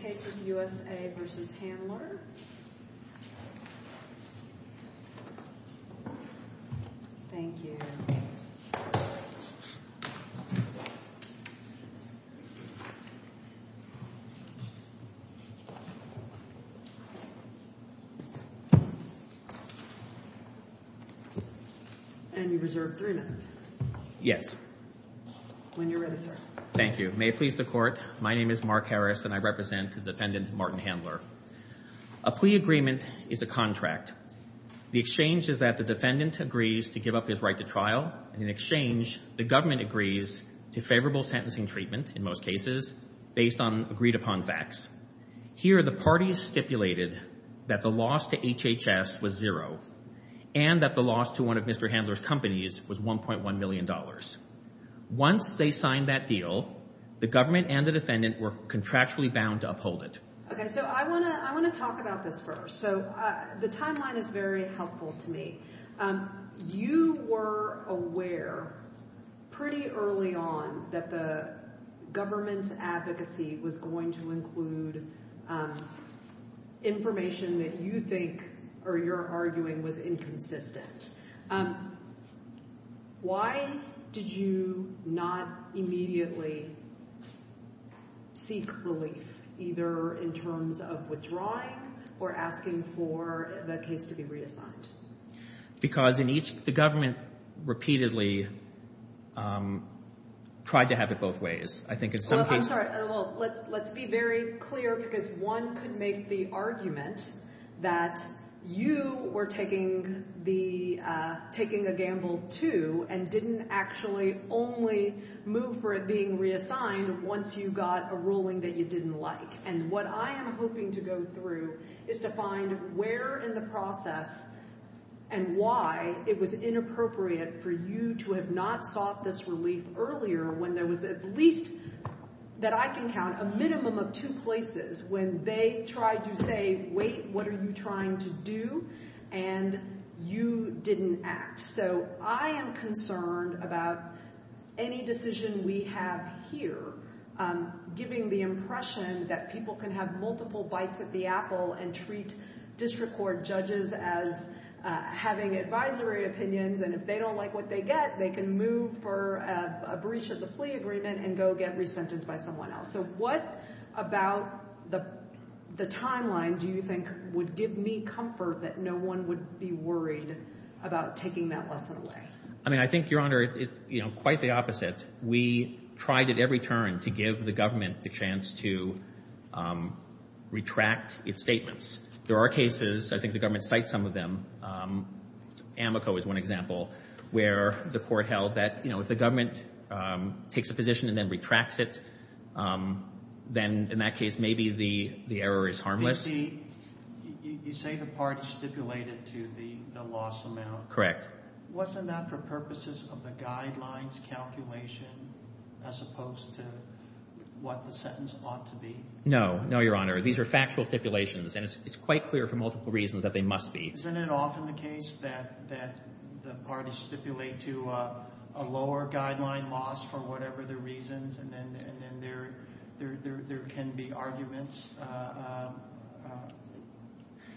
This case is U.S.A. v. Handler. Thank you. And you reserve three minutes. Yes. When you're ready, sir. Thank you. May it please the Court. My name is Mark Harris, and I represent the defendant, Martin Handler. A plea agreement is a contract. The exchange is that the defendant agrees to give up his right to trial, and in exchange, the government agrees to favorable sentencing treatment, in most cases, based on agreed-upon facts. Here, the parties stipulated that the loss to HHS was zero and that the loss to one of Mr. Handler's companies was $1.1 million. Once they signed that deal, the government and the defendant were contractually bound to uphold it. Okay, so I want to talk about this first. So the timeline is very helpful to me. You were aware pretty early on that the government's advocacy was going to include information that you think or you're arguing was inconsistent. Why did you not immediately seek relief, either in terms of withdrawing or asking for the case to be reassigned? Because the government repeatedly tried to have it both ways. I'm sorry. Let's be very clear, because one could make the argument that you were taking a gamble, too, and didn't actually only move for it being reassigned once you got a ruling that you didn't like. And what I am hoping to go through is to find where in the process and why it was inappropriate for you to have not sought this relief earlier when there was at least, that I can count, a minimum of two places when they tried to say, wait, what are you trying to do? And you didn't act. So I am concerned about any decision we have here giving the impression that people can have multiple bites at the apple and treat district court judges as having advisory opinions, and if they don't like what they get, they can move for a breach of the plea agreement and go get resentenced by someone else. So what about the timeline do you think would give me comfort that no one would be worried about taking that lesson away? I mean, I think, Your Honor, quite the opposite. We tried at every turn to give the government the chance to retract its statements. There are cases, I think the government cites some of them. Amoco is one example where the court held that if the government takes a position and then retracts it, then in that case maybe the error is harmless. You say the parties stipulated to the loss amount. Wasn't that for purposes of the guidelines calculation as opposed to what the sentence ought to be? No, Your Honor. These are factual stipulations, and it's quite clear for multiple reasons that they must be. Isn't it often the case that the parties stipulate to a lower guideline loss for whatever the reasons, and then there can be arguments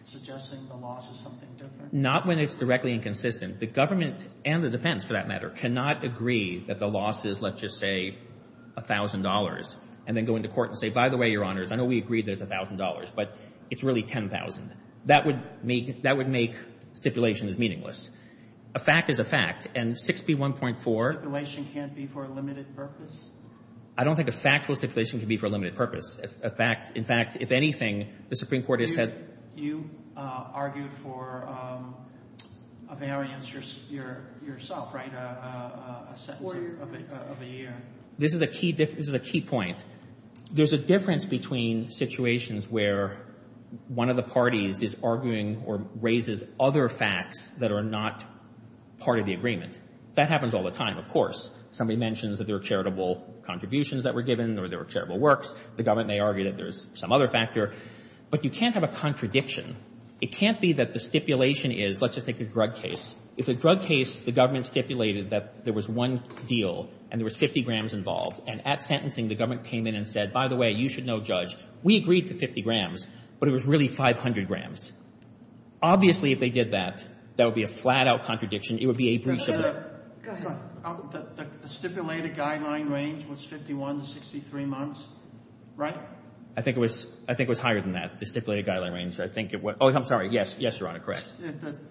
suggesting the loss is something different? Not when it's directly inconsistent. The government and the defense, for that matter, cannot agree that the loss is, let's just say, $1,000 and then go into court and say, by the way, Your Honors, I know we agreed there's $1,000, but it's really $10,000. That would make stipulations meaningless. A fact is a fact, and 6B1.4 A stipulation can't be for a limited purpose? I don't think a factual stipulation can be for a limited purpose. In fact, if anything, the Supreme Court has said You argued for a variance yourself, right? A sentence of a year. This is a key point. There's a difference between situations where one of the parties is arguing or raises other facts that are not part of the agreement. That happens all the time, of course. Somebody mentions that there were charitable contributions that were given or there were charitable works. The government may argue that there's some other factor. But you can't have a contradiction. It can't be that the stipulation is, let's just take the drug case. If the drug case, the government stipulated that there was one deal and there was 50 grams involved, and at sentencing, the government came in and said, By the way, you should know, Judge, we agreed to 50 grams, but it was really 500 grams. Obviously, if they did that, that would be a flat-out contradiction. It would be a breach of the— Go ahead. The stipulated guideline range was 51 to 63 months, right? I think it was higher than that, the stipulated guideline range. I think it was—oh, I'm sorry. Yes, Your Honor. Correct.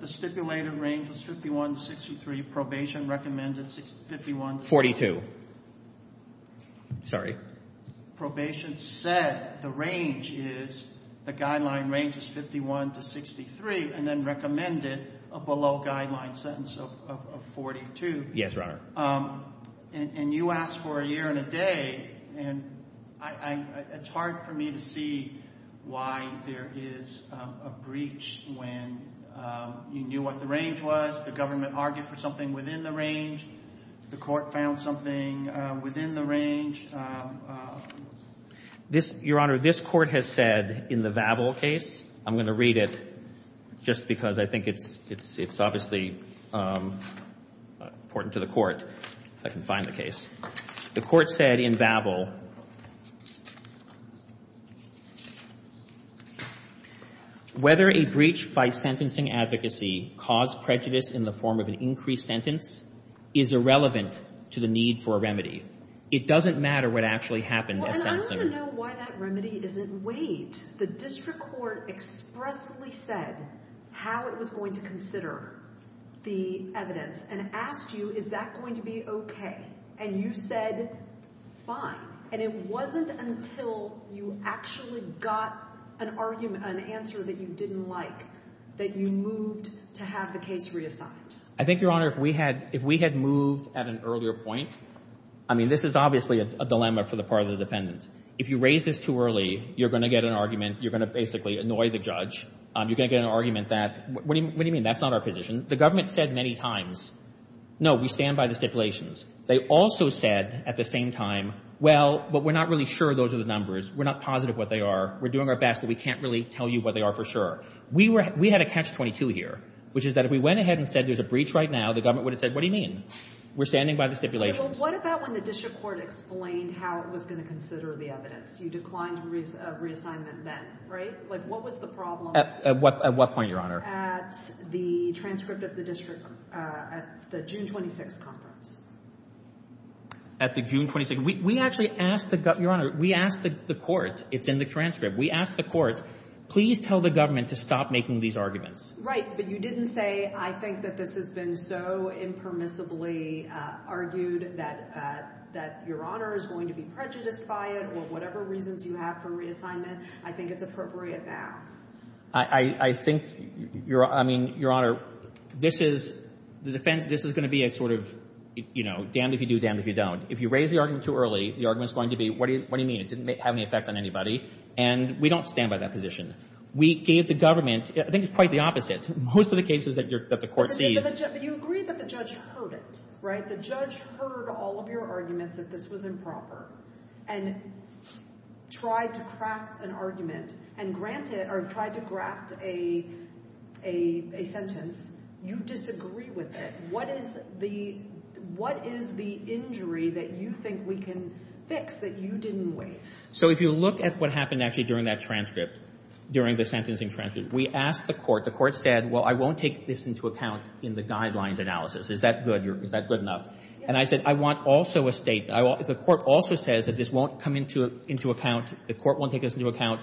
The stipulated range was 51 to 63. Probation recommended 51 to 63. Forty-two. Sorry. Probation said the range is—the guideline range is 51 to 63 and then recommended a below-guideline sentence of 42. Yes, Your Honor. And you asked for a year and a day, and it's hard for me to see why there is a breach when you knew what the range was, the government argued for something within the range, the court found something within the range. Your Honor, this Court has said in the Babel case—I'm going to read it just because I think it's obviously important to the Court if I can find the case. The Court said in Babel, Whether a breach by sentencing advocacy caused prejudice in the form of an increased sentence is irrelevant to the need for a remedy. It doesn't matter what actually happened. Well, and I want to know why that remedy isn't—wait. The district court expressly said how it was going to consider the evidence and asked you, is that going to be okay? And you said, fine. And it wasn't until you actually got an answer that you didn't like that you moved to have the case reassigned. I think, Your Honor, if we had moved at an earlier point—I mean, this is obviously a dilemma for the part of the defendant. If you raise this too early, you're going to get an argument. You're going to basically annoy the judge. You're going to get an argument that, what do you mean, that's not our position? The government said many times, no, we stand by the stipulations. They also said at the same time, well, but we're not really sure those are the numbers. We're not positive what they are. We're doing our best, but we can't really tell you what they are for sure. We had a catch-22 here, which is that if we went ahead and said there's a breach right now, the government would have said, what do you mean? We're standing by the stipulations. Well, what about when the district court explained how it was going to consider the evidence? You declined reassignment then, right? Like, what was the problem— At what point, Your Honor? At the transcript of the district—at the June 26 conference. At the June 26—we actually asked the—Your Honor, we asked the court. It's in the transcript. We asked the court, please tell the government to stop making these arguments. Right, but you didn't say, I think that this has been so impermissibly argued that Your Honor is going to be prejudiced by it or whatever reasons you have for reassignment. I think it's appropriate now. I think, I mean, Your Honor, this is going to be a sort of damned if you do, damned if you don't. If you raise the argument too early, the argument is going to be, what do you mean? It didn't have any effect on anybody, and we don't stand by that position. We gave the government—I think it's quite the opposite. Most of the cases that the court sees— But you agree that the judge heard it, right? The judge heard all of your arguments that this was improper and tried to craft an argument and granted—or tried to craft a sentence. You disagree with it. What is the injury that you think we can fix that you didn't weigh? So if you look at what happened actually during that transcript, during the sentencing transcript, we asked the court. The court said, well, I won't take this into account in the guidelines analysis. Is that good? Is that good enough? And I said, I want also a statement. The court also says that this won't come into account. The court won't take this into account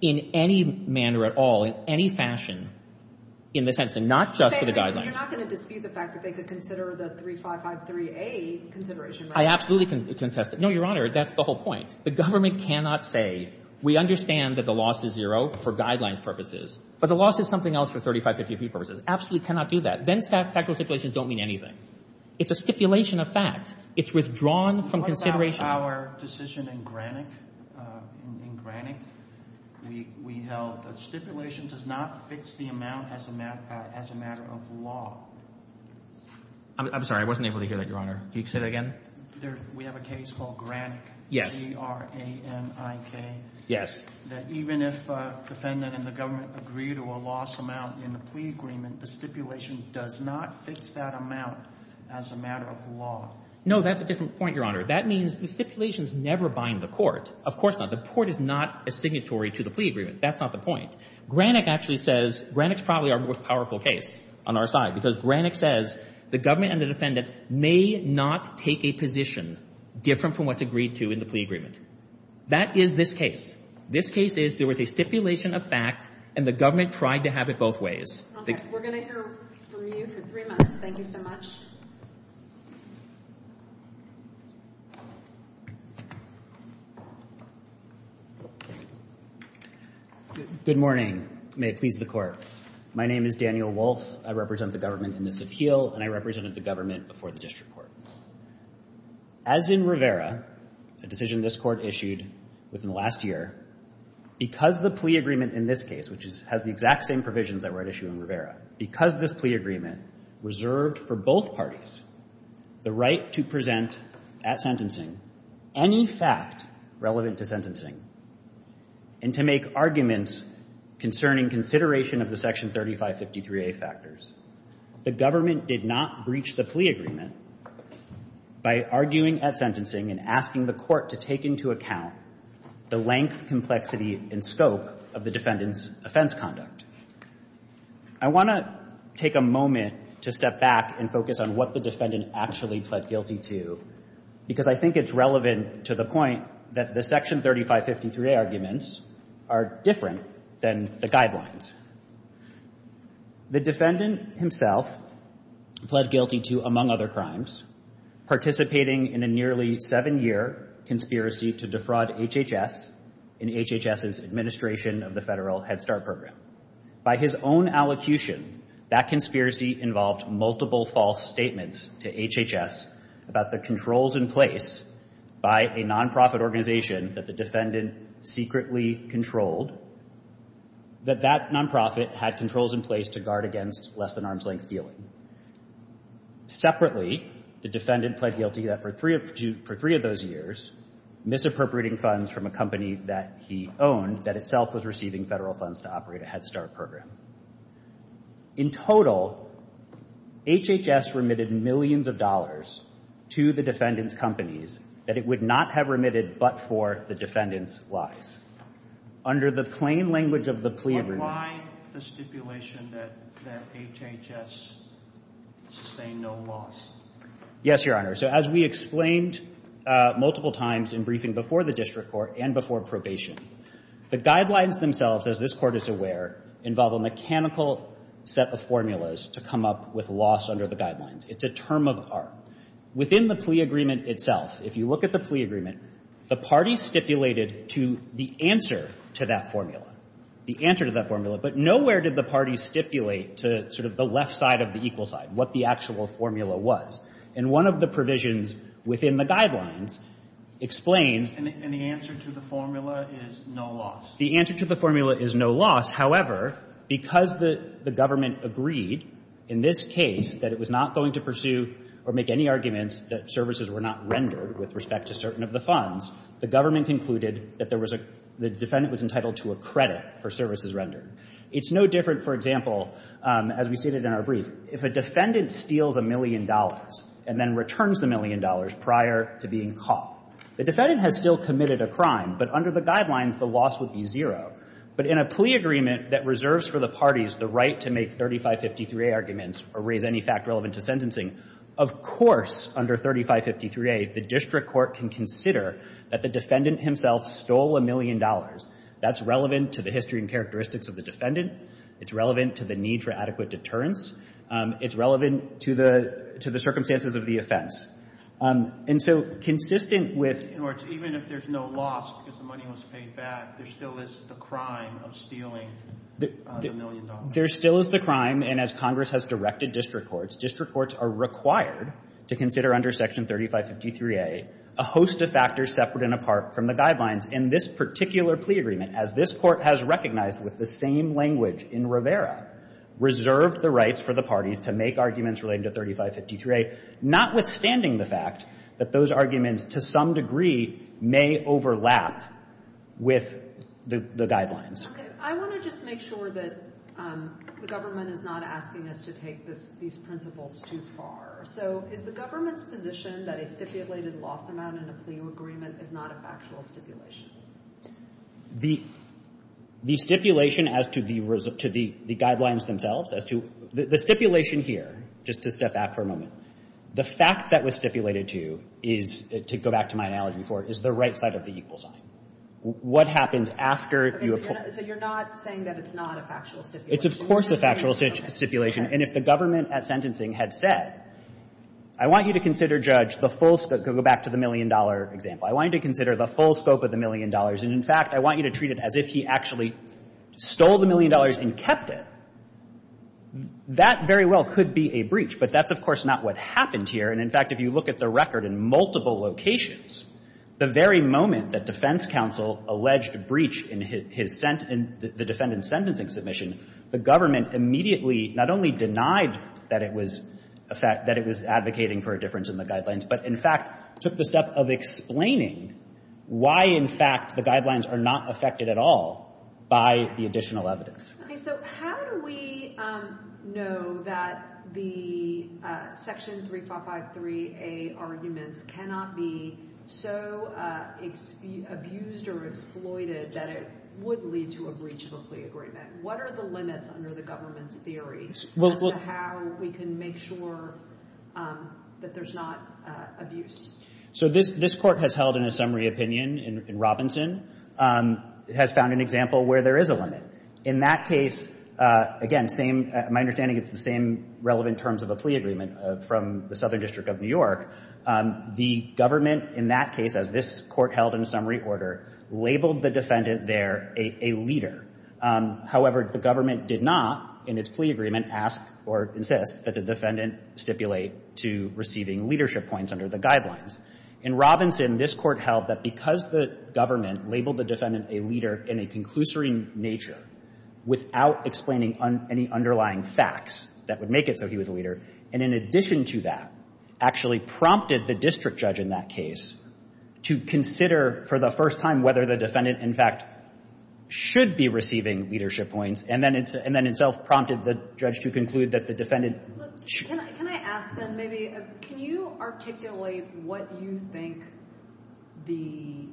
in any manner at all, in any fashion, in the sentence, and not just for the guidelines. You're not going to dispute the fact that they could consider the 3553A consideration, right? I absolutely contest it. No, Your Honor, that's the whole point. The government cannot say, we understand that the loss is zero for guidelines purposes, but the loss is something else for 3553 purposes. Absolutely cannot do that. Then factual stipulations don't mean anything. It's a stipulation of fact. It's withdrawn from consideration. What about our decision in Granick? In Granick, we held that stipulation does not fix the amount as a matter of law. I'm sorry. I wasn't able to hear that, Your Honor. Can you say that again? We have a case called Granick. Yes. G-R-A-N-I-K. Yes. That even if a defendant and the government agree to a loss amount in the plea agreement, the stipulation does not fix that amount as a matter of law. No, that's a different point, Your Honor. That means the stipulations never bind the court. Of course not. The court is not a signatory to the plea agreement. That's not the point. Granick actually says, Granick's probably our most powerful case on our side because Granick says the government and the defendant may not take a position different from what's agreed to in the plea agreement. That is this case. This case is there was a stipulation of fact, and the government tried to have it both ways. Okay. We're going to hear from you for three minutes. Thank you so much. Good morning. May it please the Court. My name is Daniel Wolf. I represent the government in this appeal, and I represented the government before the district court. As in Rivera, a decision this court issued within the last year, because the plea agreement in this case, which has the exact same provisions that were at issue in Rivera, because this plea agreement reserved for both parties the right to present at sentencing any fact relevant to sentencing and to make arguments concerning consideration of the Section 3553A factors. The government did not breach the plea agreement by arguing at sentencing and asking the court to take into account the length, complexity, and scope of the defendant's offense conduct. I want to take a moment to step back and focus on what the defendant actually pled guilty to, because I think it's relevant to the point that the Section 3553A arguments are different than the guidelines. The defendant himself pled guilty to, among other crimes, participating in a nearly seven-year conspiracy to defraud HHS in HHS's administration of the federal Head Start program. By his own allocution, that conspiracy involved multiple false statements to HHS about the controls in place by a nonprofit organization that the defendant secretly controlled, that that nonprofit had controls in place to guard against less-than-arm's-length dealing. Separately, the defendant pled guilty that for three of those years, misappropriating funds from a company that he owned that itself was receiving federal funds to operate a Head Start program. In total, HHS remitted millions of dollars to the defendant's companies that it would not have remitted but for the defendant's lies. Under the plain language of the plea agreement... But why the stipulation that HHS sustain no loss? Yes, Your Honor. So as we explained multiple times in briefing before the district court and before probation, the guidelines themselves, as this Court is aware, involve a mechanical set of formulas to come up with loss under the guidelines. It's a term of art. Within the plea agreement itself, if you look at the plea agreement, the parties stipulated to the answer to that formula, the answer to that formula, but nowhere did the parties stipulate to sort of the left side of the equal side what the actual formula was. And one of the provisions within the guidelines explains... And the answer to the formula is no loss. The answer to the formula is no loss. However, because the government agreed in this case that it was not going to pursue or make any arguments that services were not rendered with respect to certain of the funds, the government concluded that there was a — the defendant was entitled to a credit for services rendered. It's no different, for example, as we stated in our brief, if a defendant steals a million dollars and then returns the million dollars prior to being caught. The defendant has still committed a crime, but under the guidelines, the loss would be zero. But in a plea agreement that reserves for the parties the right to make 3553A arguments or raise any fact relevant to sentencing, of course under 3553A, the district court can consider that the defendant himself stole a million dollars. That's relevant to the history and characteristics of the defendant. It's relevant to the need for adequate deterrence. It's relevant to the circumstances of the offense. And so consistent with — In other words, even if there's no loss because the money was paid back, there still is the crime of stealing the million dollars. There still is the crime. And as Congress has directed district courts, district courts are required to consider under Section 3553A a host of factors separate and apart from the guidelines. And this particular plea agreement, as this Court has recognized with the same language in Rivera, reserved the rights for the parties to make arguments relating to 3553A, notwithstanding the fact that those arguments, to some degree, may overlap with the guidelines. Okay. I want to just make sure that the government is not asking us to take these principles too far. So is the government's position that a stipulated loss amount in a plea agreement is not a factual stipulation? The stipulation as to the guidelines themselves, as to — the stipulation here, just to step back for a moment, the fact that was stipulated to is, to go back to my analogy before, is the right side of the equal sign. What happens after you — So you're not saying that it's not a factual stipulation? It's, of course, a factual stipulation. And if the government at sentencing had said, I want you to consider, Judge, the full — go back to the million-dollar example. I want you to consider the full scope of the million dollars. And, in fact, I want you to treat it as if he actually stole the million dollars and kept it. That very well could be a breach. But that's, of course, not what happened here. And, in fact, if you look at the record in multiple locations, the very moment that defense counsel alleged a breach in his — the defendant's sentencing submission, the government immediately not only denied that it was advocating for a difference in the guidelines, but, in fact, took the step of explaining why, in fact, the guidelines are not affected at all by the additional evidence. So how do we know that the Section 3553A arguments cannot be so abused or exploited that it would lead to a breach of a plea agreement? What are the limits under the government's theories as to how we can make sure that there's not abuse? So this Court has held in a summary opinion in Robinson, has found an example where there is a limit. In that case, again, same — my understanding is it's the same relevant terms of a plea agreement from the Southern District of New York. The government in that case, as this Court held in a summary order, labeled the defendant there a leader. However, the government did not, in its plea agreement, ask or insist that the defendant stipulate to receiving leadership points under the guidelines. In Robinson, this Court held that because the government labeled the defendant a leader in a conclusory nature without explaining any underlying facts that would make it so he was a leader, and in addition to that, actually prompted the district judge in that case to consider for the first time whether the defendant, in fact, should be receiving leadership points, and then itself prompted the judge to conclude that the defendant — Can I ask, then, maybe — can you articulate what you think the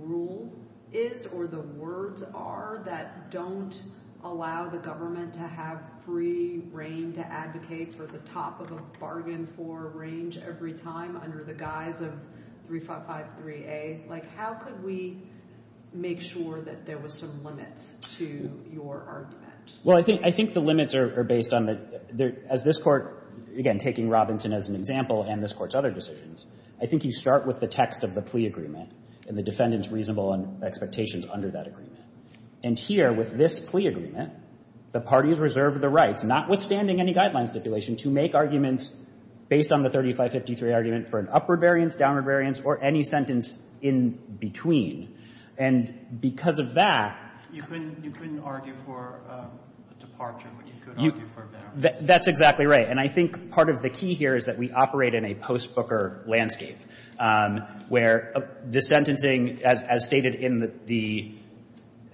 rule is or the words are that don't allow the government to have free reign to advocate for the top of a bargain-for range every time under the guise of 355-3A? Like, how could we make sure that there were some limits to your argument? Well, I think the limits are based on the — as this Court, again, taking Robinson as an example and this Court's other decisions, I think you start with the text of the plea agreement and the defendant's reasonable expectations under that agreement. And here, with this plea agreement, the parties reserved the rights, notwithstanding any guideline stipulation, to make arguments based on the 3553 argument for an upward variance, downward variance, or any sentence in between. And because of that — You couldn't argue for a departure, but you could argue for a benefit. That's exactly right. And I think part of the key here is that we operate in a post-Booker landscape, where the sentencing, as stated in the —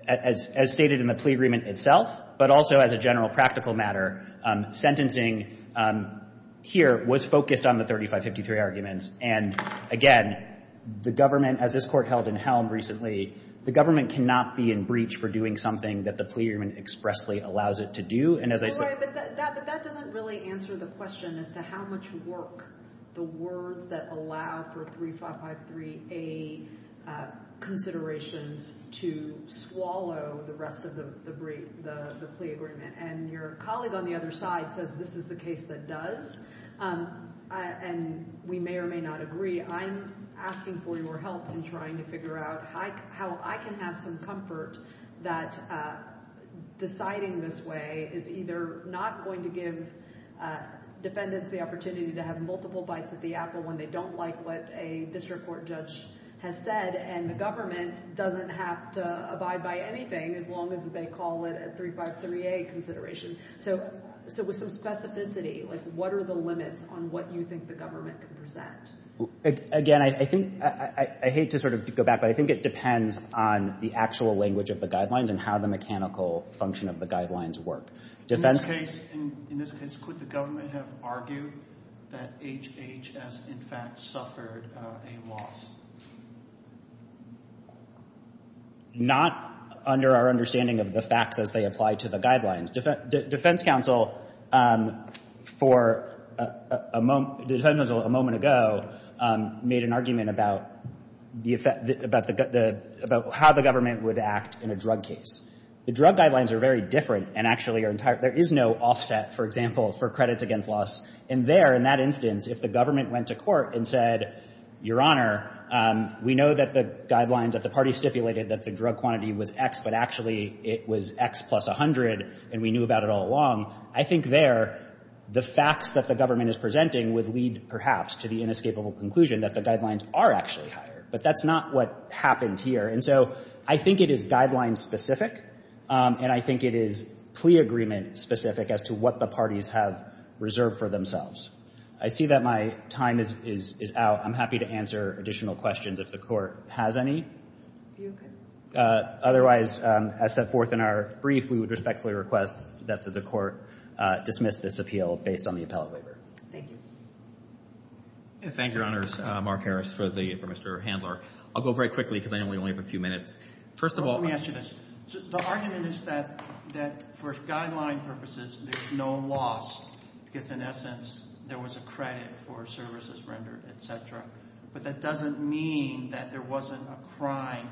as stated in the plea agreement itself, but also as a general practical matter, sentencing here was focused on the 3553 arguments. And again, the government — as this Court held in Helm recently, the government cannot be in breach for doing something that the plea agreement expressly allows it to do. And as I said — Right, but that doesn't really answer the question as to how much work the words that allow for 3553A considerations to swallow the rest of the plea agreement. And your colleague on the other side says this is the case that does, and we may or may not agree. I'm asking for your help in trying to figure out how I can have some comfort that deciding this way is either not going to give defendants the opportunity to have multiple bites at the apple when they don't like what a district court judge has said, and the government doesn't have to abide by anything as long as they call it a 353A consideration. So with some specificity, like, what are the limits on what you think the government can present? Again, I think — I hate to sort of go back, but I think it depends on the actual language of the guidelines and how the mechanical function of the guidelines work. In this case, could the government have argued that HHS, in fact, suffered a loss? Not under our understanding of the facts as they apply to the guidelines. Defense counsel for a moment ago made an argument about how the government would act in a drug case. The drug guidelines are very different and actually are entirely — there is no offset, for example, for credits against loss. And there, in that instance, if the government went to court and said, Your Honor, we know that the guidelines that the parties stipulated that the drug quantity was X, but actually it was X plus 100 and we knew about it all along, I think there the facts that the government is presenting would lead, perhaps, to the inescapable conclusion that the guidelines are actually higher. But that's not what happened here. And so I think it is guideline-specific and I think it is plea agreement-specific as to what the parties have reserved for themselves. I see that my time is out. I'm happy to answer additional questions if the Court has any. Otherwise, as set forth in our brief, we would respectfully request that the Court dismiss this appeal based on the appellate waiver. Thank you. Thank you, Your Honors. Mark Harris for Mr. Handler. I'll go very quickly because I know we only have a few minutes. First of all, let me ask you this. The argument is that for guideline purposes there's no loss because, in essence, there was a credit for services rendered, et cetera. But that doesn't mean that there wasn't a crime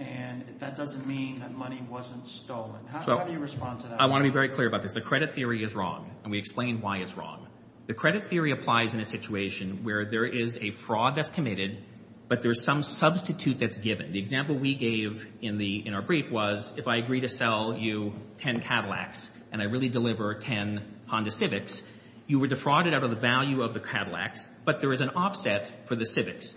and that doesn't mean that money wasn't stolen. How do you respond to that? I want to be very clear about this. The credit theory is wrong and we explained why it's wrong. The credit theory applies in a situation where there is a fraud that's committed but there's some substitute that's given. The example we gave in our brief was if I agree to sell you 10 Cadillacs and I really deliver 10 Honda Civics, you were defrauded out of the value of the Cadillacs, but there is an offset for the Civics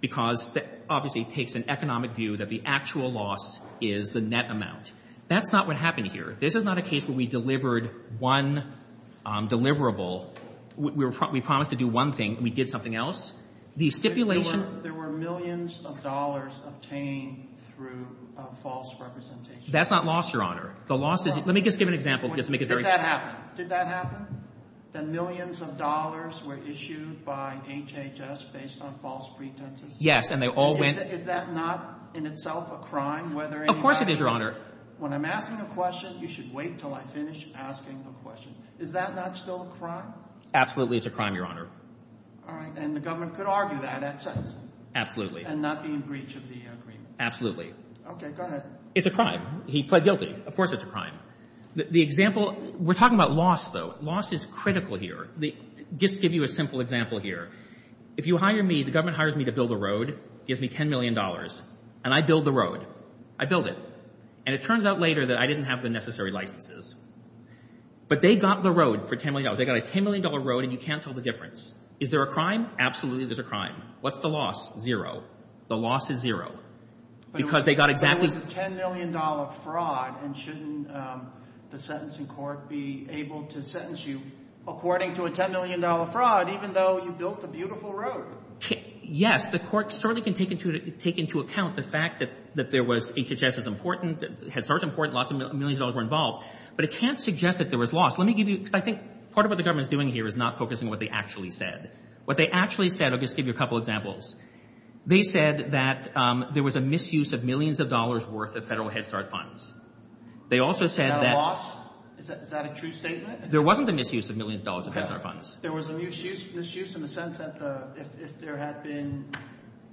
because it obviously takes an economic view that the actual loss is the net amount. That's not what happened here. This is not a case where we delivered one deliverable. We promised to do one thing and we did something else. There were millions of dollars obtained through false representations. That's not loss, Your Honor. Let me just give an example. Did that happen? Did that happen? The millions of dollars were issued by HHS based on false pretenses? Yes, and they all went. Is that not in itself a crime? Of course it is, Your Honor. When I'm asking a question, you should wait until I finish asking the question. Is that not still a crime? Absolutely it's a crime, Your Honor. All right, and the government could argue that at sentencing? Absolutely. And not be in breach of the agreement? Absolutely. Okay, go ahead. It's a crime. He pled guilty. Of course it's a crime. The example, we're talking about loss, though. Loss is critical here. Just to give you a simple example here. If you hire me, the government hires me to build a road, gives me $10 million, and I build the road. I build it. And it turns out later that I didn't have the necessary licenses. But they got the road for $10 million. They got a $10 million road, and you can't tell the difference. Is there a crime? Absolutely there's a crime. What's the loss? Zero. The loss is zero. But it was a $10 million fraud, and shouldn't the sentencing court be able to sentence you according to a $10 million fraud, even though you built a beautiful road? Yes, the court certainly can take into account the fact that there was HHS is important, Head Start is important, lots of millions of dollars were involved. But it can't suggest that there was loss. Let me give you, because I think part of what the government is doing here is not focusing on what they actually said. What they actually said, I'll just give you a couple examples. They said that there was a misuse of millions of dollars worth of federal Head Start funds. They also said that. Is that a true statement? There wasn't a misuse of millions of dollars of Head Start funds. There was a misuse in the sense that if there had been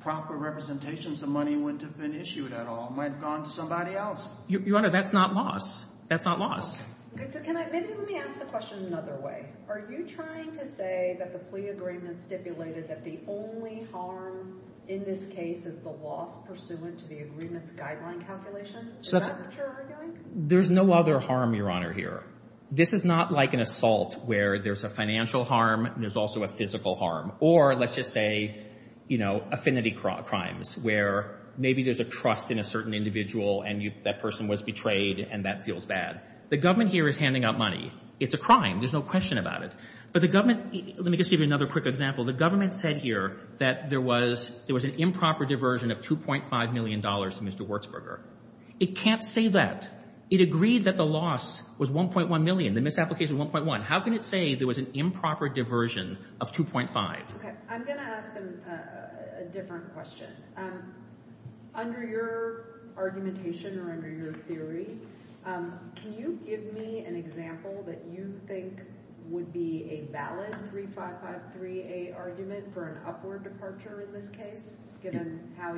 proper representations of money, it wouldn't have been issued at all. It might have gone to somebody else. Your Honor, that's not loss. That's not loss. Maybe let me ask the question another way. Are you trying to say that the plea agreement stipulated that the only harm in this case is the loss pursuant to the agreement's guideline calculation? Is that what you're arguing? There's no other harm, Your Honor, here. This is not like an assault where there's a financial harm, there's also a physical harm. Or let's just say, you know, affinity crimes where maybe there's a trust in a certain individual and that person was betrayed and that feels bad. The government here is handing out money. It's a crime. There's no question about it. But the government, let me just give you another quick example. The government said here that there was an improper diversion of $2.5 million to Mr. Wertzberger. It can't say that. It agreed that the loss was $1.1 million, the misapplication $1.1. How can it say there was an improper diversion of $2.5? Okay. I'm going to ask them a different question. Under your argumentation or under your theory, can you give me an example that you think would be a valid 3553A argument for an upward departure in this case, given how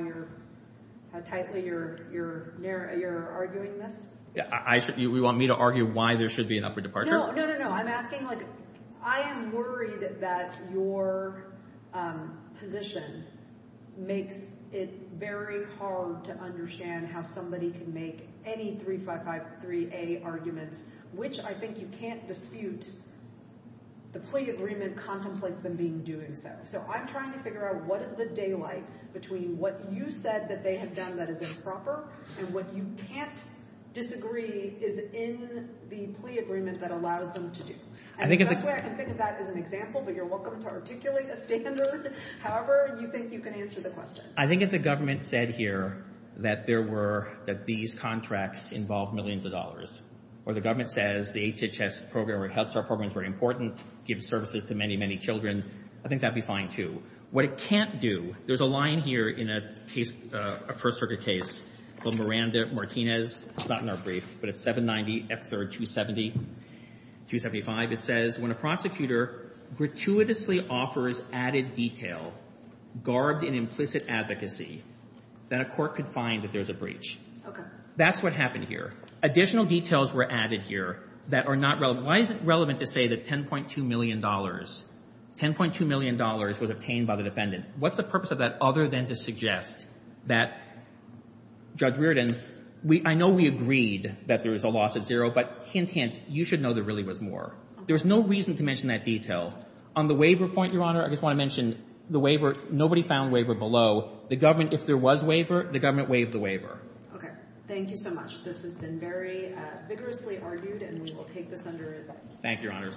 tightly you're arguing this? You want me to argue why there should be an upward departure? No, no, no. I'm asking like I am worried that your position makes it very hard to understand how somebody can make any 3553A arguments, which I think you can't dispute. The plea agreement contemplates them being doing so. So I'm trying to figure out what is the daylight between what you said that they have done that is improper and what you can't disagree is in the plea agreement that allows them to do. I can think of that as an example, but you're welcome to articulate a standard. However, you think you can answer the question. I think if the government said here that these contracts involve millions of dollars or the government says the HHS program or Health Star program is very important, gives services to many, many children, I think that would be fine, too. What it can't do, there's a line here in a first-trigger case called Miranda-Martinez. It's not in our brief, but it's 790 F3rd 275. It says, when a prosecutor gratuitously offers added detail, garbed in implicit advocacy, then a court could find that there's a breach. That's what happened here. Additional details were added here that are not relevant. Why is it relevant to say that $10.2 million, $10.2 million was obtained by the defendant? What's the purpose of that other than to suggest that, Judge Reardon, I know we agreed that there was a loss at zero, but hint, hint, you should know there really was more. There was no reason to mention that detail. On the waiver point, Your Honor, I just want to mention the waiver, nobody found waiver below. The government, if there was waiver, the government waived the waiver. Okay. Thank you so much. This has been very vigorously argued, and we will take this under advice. Thank you, Your Honors.